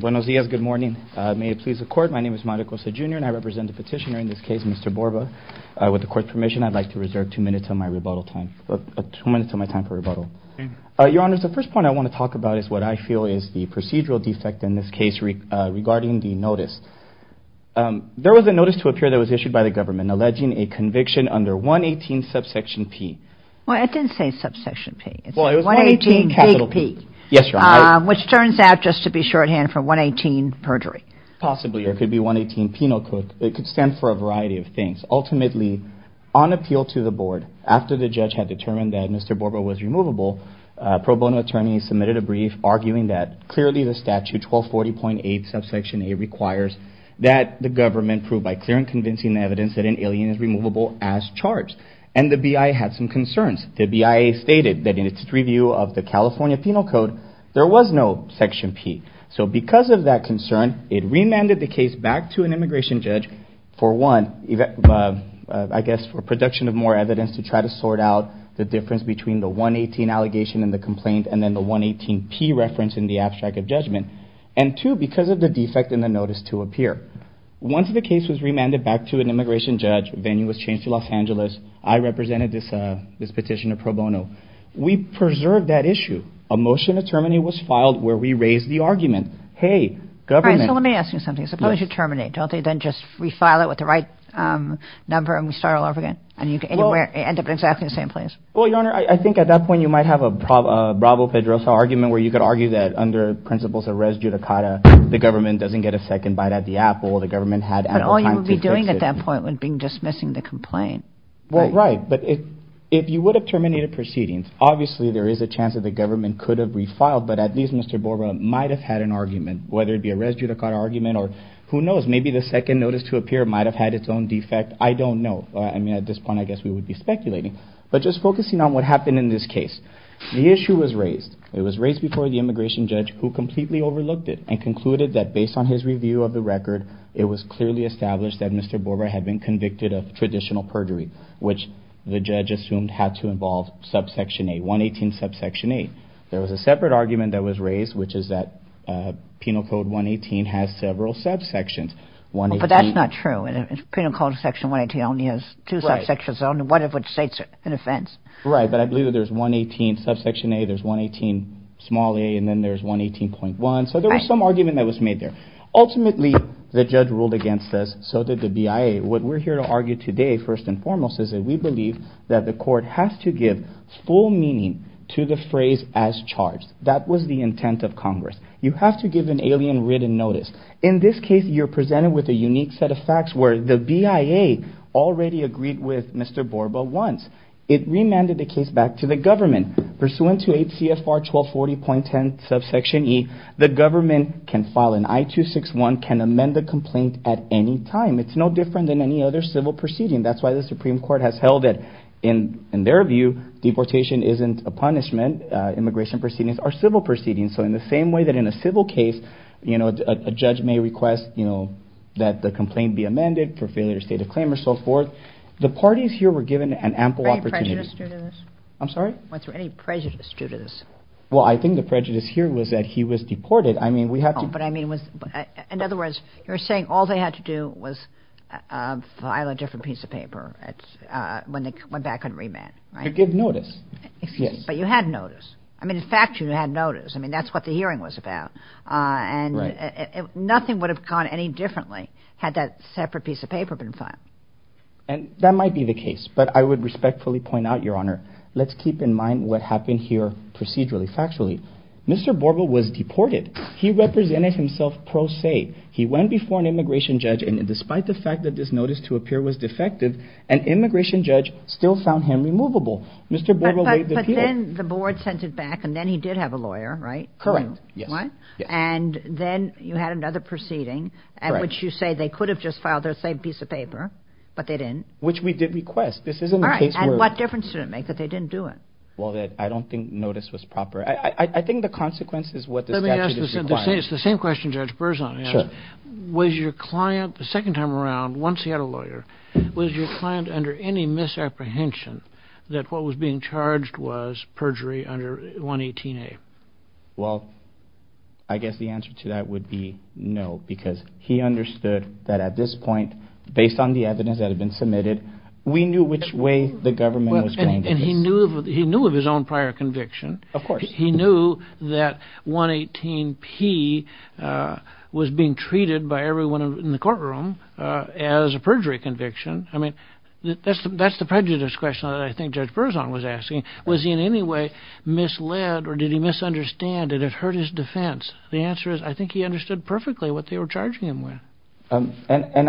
Buenos dias, good morning. May it please the court, my name is Mario Cosa Jr. and I represent the petitioner in this case, Mr. Borba. With the court's permission, I'd like to reserve two minutes of my rebuttal time, two minutes of my time for rebuttal. Your Honor, the first point I want to talk about is what I feel is the procedural defect in this case regarding the notice. There was a notice to appear that was issued by the government alleging a conviction under 118 subsection P. Well, it didn't say subsection P. Well, it was 118 capital P. Yes, Your Honor. Which turns out just to be shorthand for 118 perjury. Possibly, or it could be 118 penal code. It could stand for a variety of things. Ultimately, on appeal to the board, after the judge had determined that Mr. Borba was removable, pro bono attorneys submitted a brief arguing that clearly the statute 1240.8 subsection A requires that the government prove by clear and convincing evidence that an alien is removable as charged. And the BIA had some concerns. The BIA stated that in its review of the California penal code, there was no section P. So because of that concern, it remanded the case back to an immigration judge for one, I guess for production of more evidence to try to sort out the difference between the 118 allegation and the complaint and then the 118 P reference in the abstract of judgment. And two, because of the defect in the notice to appear. Once the case was remanded back to an immigration judge, venue was changed to Los Angeles. I represented this petition to pro bono. We preserved that issue. A motion to terminate was filed where we raised the argument. Hey, government. Let me ask you something. Suppose you terminate. Don't they then just refile it with the right number and we start all over again? And you end up in exactly the same place. Well, Your Honor, I think at that point you might have a bravo pedrosa argument where you could argue that under principles of res judicata, the government doesn't get a second bite at the apple. The government had all you would be doing at that point would be dismissing the complaint. Well, right. But if you would have terminated proceedings, obviously there is a chance that the government could have refiled. But at least Mr. Borah might have had an argument, whether it be a res judicata argument or who knows, maybe the second notice to appear might have had its own defect. I don't know. I mean, at this point, I guess we would be speculating. But just focusing on what happened in this case, the issue was raised. It was raised before the immigration judge who completely overlooked it and concluded that based on his review of the record, it was clearly established that Mr. Borah had been convicted of traditional perjury, which the judge assumed had to involve subsection A, 118 subsection A. There was a separate argument that was raised, which is that Penal Code 118 has several subsections. But that's not true. Penal Code section 118 only has two subsections, one of which states an offense. Right. But I believe that there's 118 subsection A, there's 118 small a, and then there's 118.1. So there was some argument that was made there. Ultimately, the judge ruled against this, so did the BIA. What we're here to argue today, first and foremost, is that we believe that the court has to give full meaning to the phrase as charged. That was the intent of Congress. You have to give an alien written notice. In this case, you're presented with a unique set of facts where the BIA already agreed with Mr. Borah once. It remanded the case back to the government. Pursuant to 8 CFR 1240.10 subsection E, the government can file an I-261, can amend the complaint at any time. It's no different than any other civil proceeding. That's why the Supreme Court has held that, in their view, deportation isn't a punishment. Immigration proceedings are civil proceedings. So in the same way that in a civil case, a judge may request that the complaint be amended for failure to state a claim or so forth, the parties here were given an ample opportunity. I'm sorry? Was there any prejudice due to this? Well, I think the prejudice here was that he was deported. In other words, you're saying all they had to do was file a different piece of paper when they went back and remanded. To give notice. But you had notice. In fact, you had notice. That's what the hearing was about. Nothing would have gone any differently had that separate piece of paper been filed. And that might be the case. But I would respectfully point out, Your Honor, let's keep in mind what happened here procedurally, factually. Mr. Borgo was deported. He represented himself pro se. He went before an immigration judge, and despite the fact that this notice to appear was defective, an immigration judge still found him removable. But then the board sent it back, and then he did have a lawyer, right? Correct. And then you had another proceeding at which you say they could have just filed their same piece of paper, but they didn't. Which we did request. All right. And what difference did it make that they didn't do it? Well, I don't think notice was proper. I think the consequence is what this statute is requiring. It's the same question Judge Berzon asked. Was your client the second time around, once he had a lawyer, was your client under any misapprehension that what was being charged was perjury under 118A? Well, I guess the answer to that would be no, because he understood that at this point, based on the evidence that had been submitted, we knew which way the government was going to do this. And he knew of his own prior conviction. Of course. He knew that 118P was being treated by everyone in the courtroom as a perjury conviction. I mean, that's the prejudice question that I think Judge Berzon was asking. Was he in any way misled or did he misunderstand? Did it hurt his defense? The answer is I think he understood perfectly what they were charging him with. And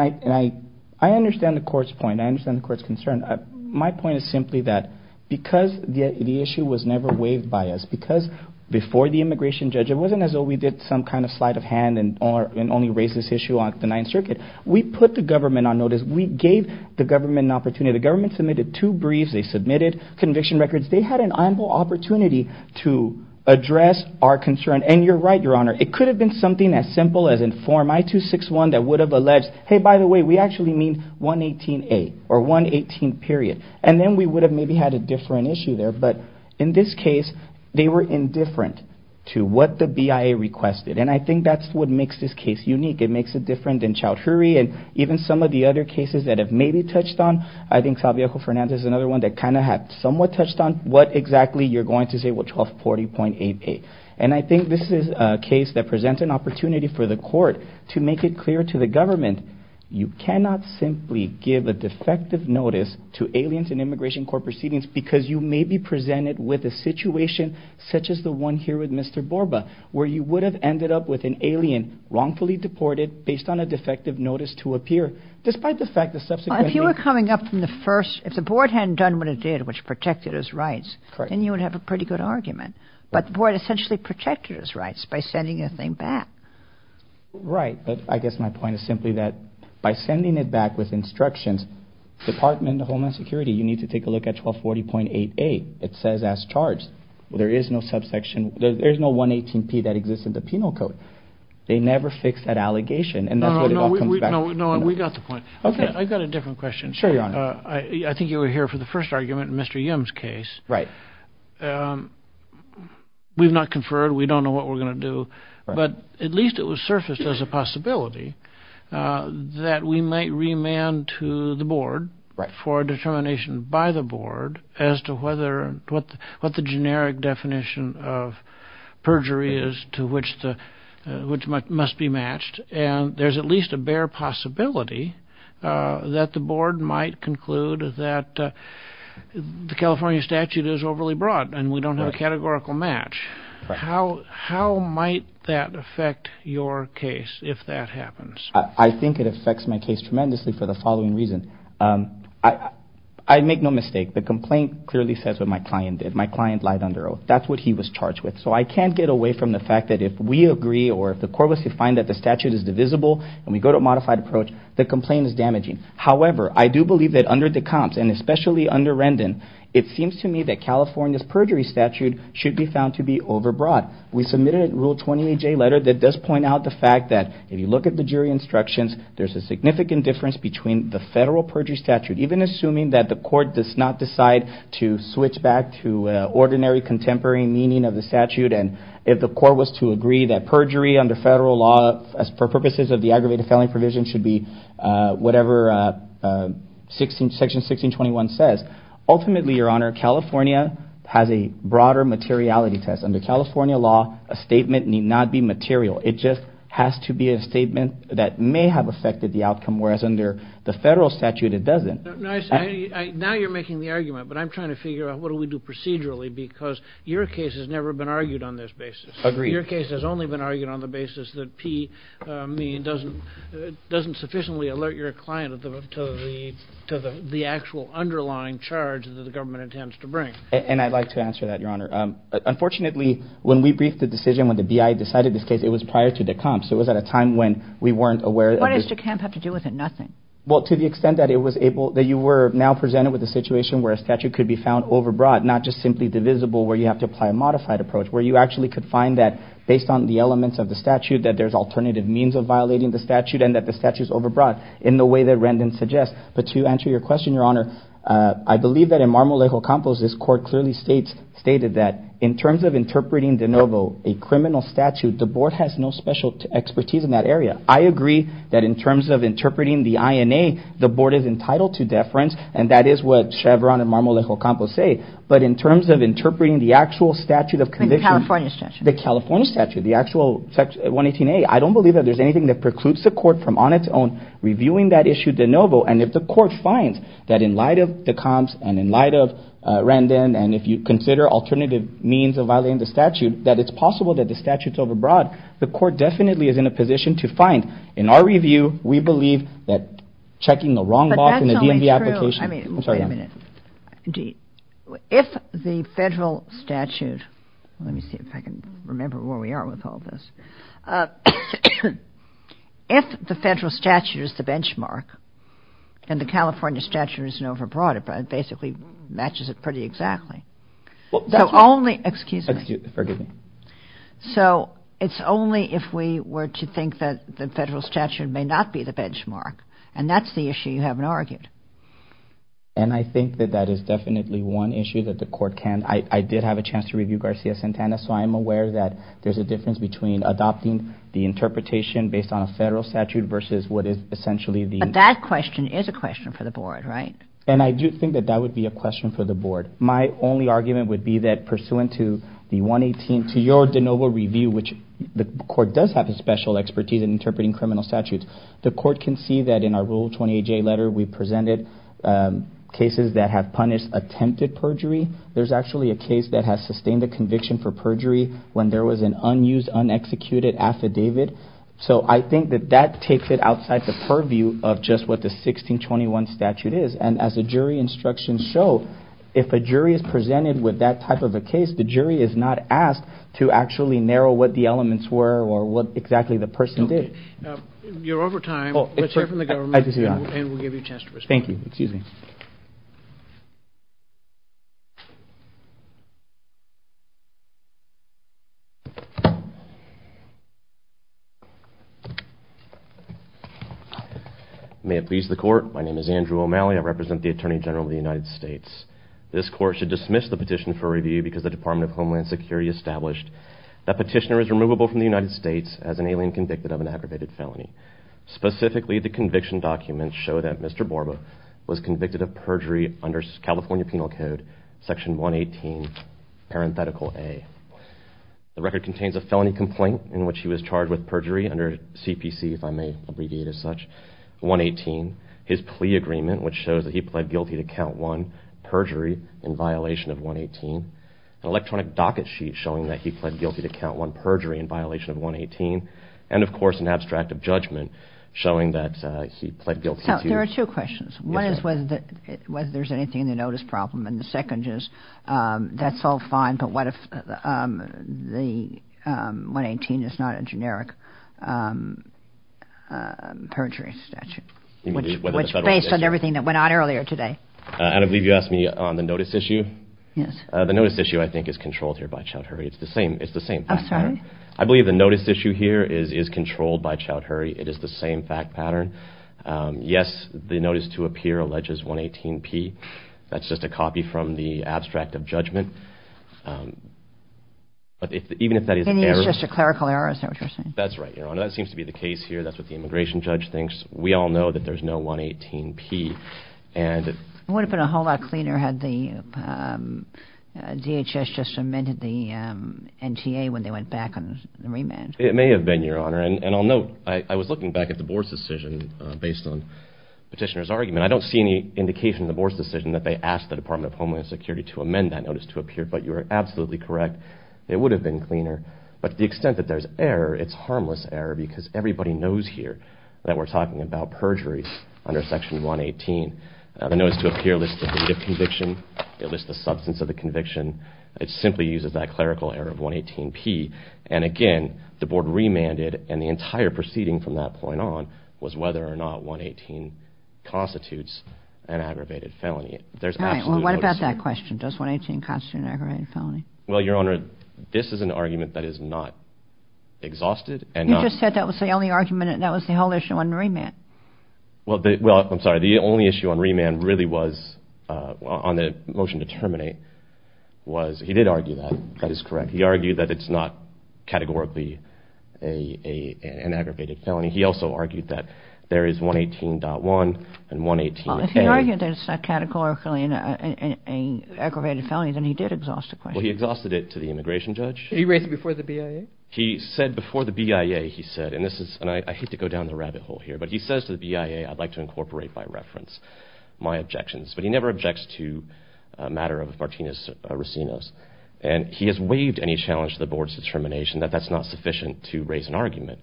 I understand the court's point. I understand the court's concern. My point is simply that because the issue was never waived by us, because before the immigration judge, it wasn't as though we did some kind of sleight of hand and only raised this issue on the Ninth Circuit. We put the government on notice. We gave the government an opportunity. The government submitted two briefs. They submitted conviction records. They had an ample opportunity to address our concern. And you're right, Your Honor. It could have been something as simple as in Form I-261 that would have alleged, hey, by the way, we actually mean 118A or 118 period. And then we would have maybe had a different issue there. But in this case, they were indifferent to what the BIA requested. And I think that's what makes this case unique. It makes it different than Chowdhury and even some of the other cases that have maybe touched on. I think Salviajo Fernandez is another one that kind of had somewhat touched on what exactly you're going to say with 1240.88. And I think this is a case that presents an opportunity for the court to make it clear to the government, you cannot simply give a defective notice to aliens in immigration court proceedings because you may be presented with a situation such as the one here with Mr. Borba, where you would have ended up with an alien wrongfully deported based on a defective notice to appear, despite the fact that subsequently— If the board hadn't done what it did, which protected his rights, then you would have a pretty good argument. But the board essentially protected his rights by sending the thing back. Right. But I guess my point is simply that by sending it back with instructions, Department of Homeland Security, you need to take a look at 1240.88. It says as charged. There is no subsection. There's no 118P that exists in the penal code. They never fixed that allegation. And that's what it all comes back to. No, we got the point. I've got a different question. Sure, Your Honor. I think you were here for the first argument in Mr. Yim's case. Right. We've not conferred. We don't know what we're going to do. But at least it was surfaced as a possibility that we might remand to the board for a determination by the board as to what the generic definition of perjury is to which must be matched. And there's at least a bare possibility that the board might conclude that the California statute is overly broad and we don't have a categorical match. How might that affect your case if that happens? I think it affects my case tremendously for the following reason. I make no mistake. The complaint clearly says what my client did. My client lied under oath. That's what he was charged with. So I can't get away from the fact that if we agree or if the court was to find that the statute is divisible and we go to a modified approach, the complaint is damaging. However, I do believe that under the comps and especially under Rendon, it seems to me that California's perjury statute should be found to be overbroad. We submitted a Rule 28J letter that does point out the fact that if you look at the jury instructions, there's a significant difference between the federal perjury statute, even assuming that the court does not decide to switch back to ordinary contemporary meaning of the statute, and if the court was to agree that perjury under federal law for purposes of the aggravated felony provision should be whatever Section 1621 says. Ultimately, Your Honor, California has a broader materiality test. Under California law, a statement need not be material. It just has to be a statement that may have affected the outcome, whereas under the federal statute it doesn't. Now you're making the argument, but I'm trying to figure out what do we do procedurally because your case has never been argued on this basis. Agreed. Your case has only been argued on the basis that P mean doesn't sufficiently alert your client to the actual underlying charge that the government intends to bring. And I'd like to answer that, Your Honor. Unfortunately, when we briefed the decision, when the BIA decided this case, it was prior to the comps. It was at a time when we weren't aware. What does the comp have to do with it? Nothing. Well, to the extent that you were now presented with a situation where a statute could be found overbroad, not just simply divisible where you have to apply a modified approach, where you actually could find that based on the elements of the statute that there's alternative means of violating the statute and that the statute is overbroad in the way that Rendon suggests. But to answer your question, Your Honor, I believe that in Marmolejo Campos, this court clearly stated that in terms of interpreting de novo a criminal statute, the board has no special expertise in that area. I agree that in terms of interpreting the INA, the board is entitled to deference, and that is what Chevron and Marmolejo Campos say. But in terms of interpreting the actual statute of conviction, the California statute, the actual 118A, I don't believe that there's anything that precludes the court from on its own reviewing that issue de novo. And if the court finds that in light of the comps and in light of Rendon, and if you consider alternative means of violating the statute, that it's possible that the statute's overbroad, the court definitely is in a position to find. In our review, we believe that checking the wrong box in the DMV application – But that's only true – I'm sorry, Your Honor. I mean, wait a minute. If the federal statute – let me see if I can remember where we are with all this. If the federal statute is the benchmark and the California statute is an overbroad, it basically matches it pretty exactly. Well, that's – So only – excuse me. Excuse me. So it's only if we were to think that the federal statute may not be the benchmark, and that's the issue you haven't argued. And I think that that is definitely one issue that the court can – I did have a chance to review Garcia-Santana, so I am aware that there's a difference between adopting the interpretation based on a federal statute versus what is essentially the – But that question is a question for the board, right? And I do think that that would be a question for the board. My only argument would be that pursuant to the 118, to your de novo review, which the court does have a special expertise in interpreting criminal statutes, the court can see that in our Rule 28J letter we presented cases that have punished attempted perjury. There's actually a case that has sustained a conviction for perjury when there was an unused, unexecuted affidavit. So I think that that takes it outside the purview of just what the 1621 statute is. And as the jury instructions show, if a jury is presented with that type of a case, the jury is not asked to actually narrow what the elements were or what exactly the person did. You're over time. Let's hear from the government, and we'll give you a chance to respond. Thank you. Excuse me. May it please the court, my name is Andrew O'Malley. I represent the Attorney General of the United States. This court should dismiss the petition for review because the Department of Homeland Security established that petitioner is removable from the United States as an alien convicted of an aggravated felony. Specifically, the conviction documents show that Mr. Borba was convicted of perjury under California Penal Code, Section 118, parenthetical A. The record contains a felony complaint in which he was charged with perjury under CPC, if I may abbreviate as such, 118. His plea agreement, which shows that he pled guilty to count one perjury in violation of 118. An electronic docket sheet showing that he pled guilty to count one perjury in violation of 118. And, of course, an abstract of judgment showing that he pled guilty to- There are two questions. One is whether there's anything in the notice problem. And the second is, that's all fine, but what if the 118 is not a generic perjury statute? Which, based on everything that went on earlier today- I believe you asked me on the notice issue. Yes. The notice issue, I think, is controlled here by Chowdhury. It's the same fact pattern. I'm sorry? I believe the notice issue here is controlled by Chowdhury. It is the same fact pattern. Yes, the notice to appear alleges 118P. That's just a copy from the abstract of judgment. But even if that is an error- And it is just a clerical error, is that what you're saying? That's right, Your Honor. That seems to be the case here. That's what the immigration judge thinks. We all know that there's no 118P. It would have been a whole lot cleaner had the DHS just amended the NTA when they went back on the remand. It may have been, Your Honor. And I'll note, I was looking back at the Board's decision based on Petitioner's argument. I don't see any indication in the Board's decision that they asked the Department of Homeland Security to amend that notice to appear. But you are absolutely correct. It would have been cleaner. But to the extent that there's error, it's harmless error because everybody knows here that we're talking about perjuries under Section 118. The notice to appear lists the date of conviction. It lists the substance of the conviction. It simply uses that clerical error of 118P. And again, the Board remanded, and the entire proceeding from that point on was whether or not 118 constitutes an aggravated felony. All right. Well, what about that question? Does 118 constitute an aggravated felony? Well, Your Honor, this is an argument that is not exhausted. You just said that was the only argument. That was the whole issue on remand. Well, I'm sorry. The only issue on remand really was, on the motion to terminate, was, he did argue that. That is correct. He argued that it's not categorically an aggravated felony. He also argued that there is 118.1 and 118A. Well, if he argued that it's not categorically an aggravated felony, then he did exhaust the question. Well, he exhausted it to the immigration judge. Did he raise it before the BIA? He said before the BIA, he said, and this is, and I hate to go down the rabbit hole here, but he says to the BIA, I'd like to incorporate by reference my objections. But he never objects to a matter of Martinez-Racinos. And he has waived any challenge to the board's determination that that's not sufficient to raise an argument.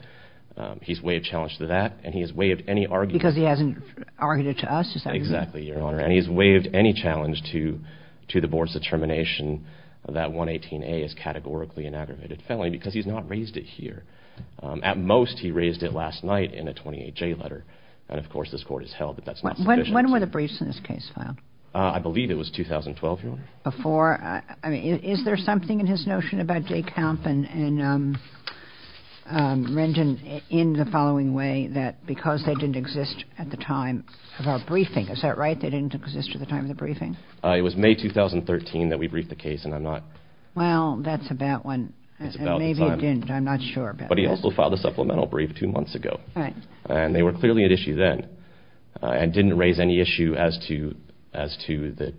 He's waived challenge to that, and he has waived any argument. Because he hasn't argued it to us, is that right? Exactly, Your Honor. And he has waived any challenge to the board's determination that 118A is categorically an aggravated felony because he's not raised it here. At most, he raised it last night in a 28J letter. And, of course, this Court has held that that's not sufficient. When were the briefs in this case filed? I believe it was 2012, Your Honor. Before? I mean, is there something in his notion about Dekamp and Rendon in the following way, that because they didn't exist at the time of our briefing, is that right? They didn't exist at the time of the briefing? It was May 2013 that we briefed the case, and I'm not. Well, that's about when, and maybe it didn't, I'm not sure. But he also filed a supplemental brief two months ago. And they were clearly at issue then. And didn't raise any issue as to the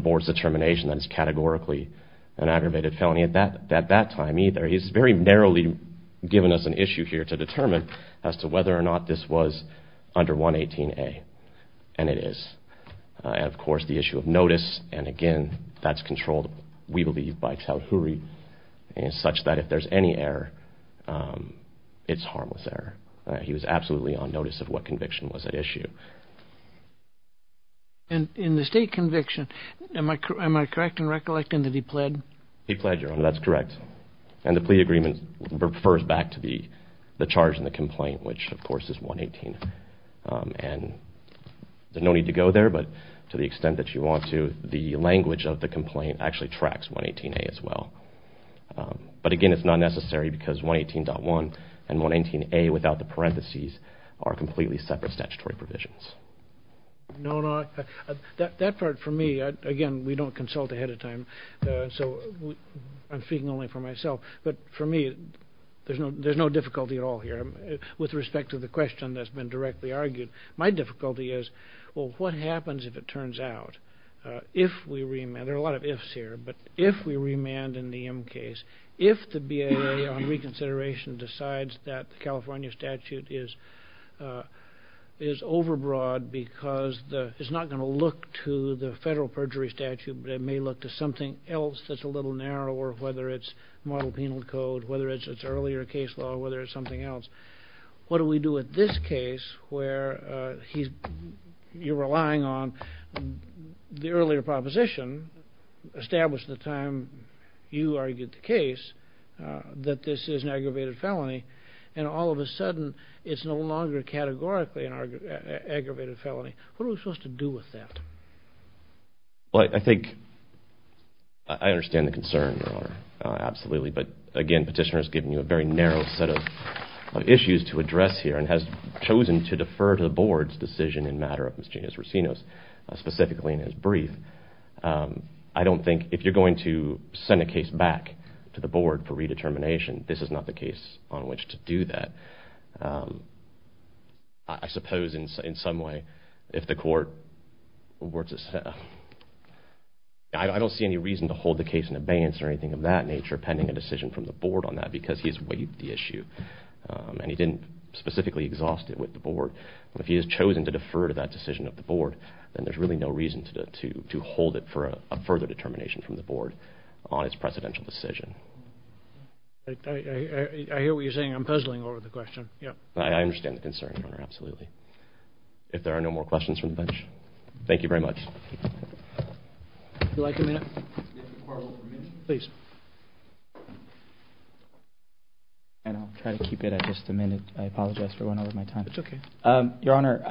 board's determination that it's categorically an aggravated felony at that time either. He's very narrowly given us an issue here to determine as to whether or not this was under 118A. And it is. And, of course, the issue of notice, and, again, that's controlled, we believe, by Tauhuri, such that if there's any error, it's harmless error. He was absolutely on notice of what conviction was at issue. And in the state conviction, am I correct in recollecting that he pled? He pled, Your Honor, that's correct. And the plea agreement refers back to the charge in the complaint, which, of course, is 118A. And there's no need to go there, but to the extent that you want to, the language of the complaint actually tracks 118A as well. But, again, it's not necessary because 118.1 and 118A without the parentheses are completely separate statutory provisions. No, no. That part, for me, again, we don't consult ahead of time, so I'm speaking only for myself. But, for me, there's no difficulty at all here. With respect to the question that's been directly argued, my difficulty is, well, what happens if it turns out? There are a lot of ifs here, but if we remand in the M case, if the BIA on reconsideration decides that the California statute is overbroad because it's not going to look to the federal perjury statute, but it may look to something else that's a little narrower, whether it's model penal code, whether it's earlier case law, whether it's something else, what do we do with this case where you're relying on the earlier proposition established at the time you argued the case that this is an aggravated felony and all of a sudden it's no longer categorically an aggravated felony? What are we supposed to do with that? Well, I think I understand the concern, Your Honor, absolutely. But, again, Petitioner has given you a very narrow set of issues to address here and has chosen to defer to the Board's decision in matter of Ms. Genias-Rocinos, specifically in his brief. I don't think if you're going to send a case back to the Board for redetermination, this is not the case on which to do that. I suppose in some way, if the Court works itself, I don't see any reason to hold the case in abeyance or anything of that nature pending a decision from the Board on that because he's weighed the issue. And he didn't specifically exhaust it with the Board. But if he has chosen to defer to that decision of the Board, then there's really no reason to hold it for a further determination from the Board on its precedential decision. I hear what you're saying. I'm puzzling over the question. I understand the concern, Your Honor, absolutely. If there are no more questions from the bench, thank you very much. Would you like a minute? If the Court will permit. Please. And I'll try to keep it at just a minute. I apologize for going over my time. It's okay. Your Honor,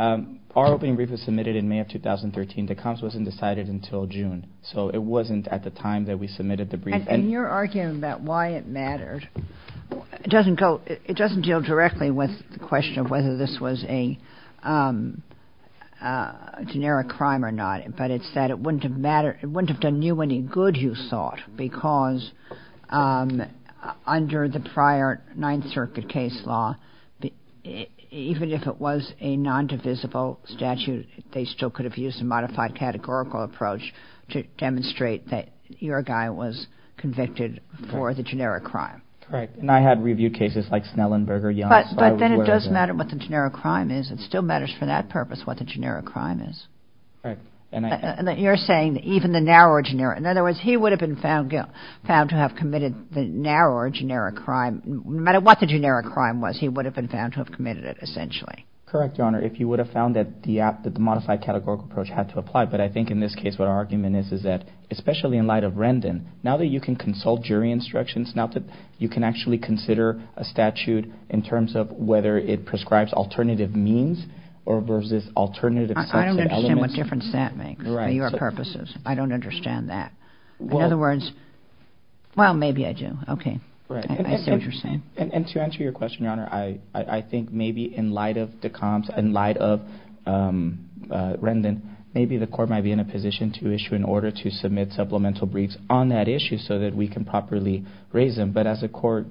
our opening brief was submitted in May of 2013. The comps wasn't decided until June. So it wasn't at the time that we submitted the brief. And you're arguing about why it mattered. It doesn't deal directly with the question of whether this was a generic crime or not. But it's that it wouldn't have done you any good, you thought, because under the prior Ninth Circuit case law, even if it was a nondivisible statute, they still could have used a modified categorical approach to demonstrate that your guy was convicted for the generic crime. Right. And I had reviewed cases like Snellenberger, Young. But then it does matter what the generic crime is. It still matters for that purpose what the generic crime is. Right. And you're saying even the narrow or generic. In other words, he would have been found to have committed the narrow or generic crime. No matter what the generic crime was, he would have been found to have committed it, essentially. Correct, Your Honor. If you would have found that the modified categorical approach had to apply. But I think in this case what our argument is is that, especially in light of Rendon, now that you can consult jury instructions, now that you can actually consider a statute in terms of whether it prescribes alternative means or versus alternative sets of elements. I don't understand what difference that makes for your purposes. I don't understand that. Well. In other words, well, maybe I do. Okay. Right. I see what you're saying. And to answer your question, Your Honor, I think maybe in light of the comps, in light of Rendon, maybe the court might be in a position to issue an order to submit supplemental briefs on that issue so that we can properly raise them. But as the court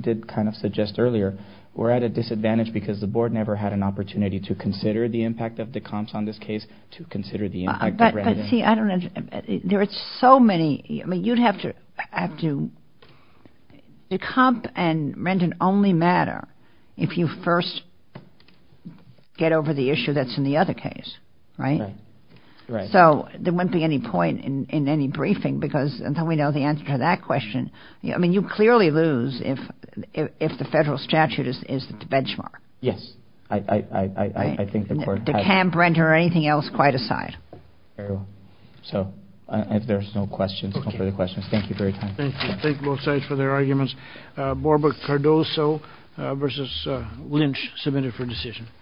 did kind of suggest earlier, we're at a disadvantage because the board never had an opportunity to consider the impact of the comps on this case, to consider the impact of Rendon. But see, I don't understand. There are so many. I mean, you'd have to – the comp and Rendon only matter if you first get over the issue that's in the other case. Right? Right. So there wouldn't be any point in any briefing because until we know the answer to that question, I mean, you'd clearly lose if the federal statute is the benchmark. Yes. I think the court has – To camp Rendon or anything else quite aside. So if there's no questions, no further questions. Thank you for your time. Thank you. Thank both sides for their arguments. Barbara Cardoso versus Lynch, submitted for decision.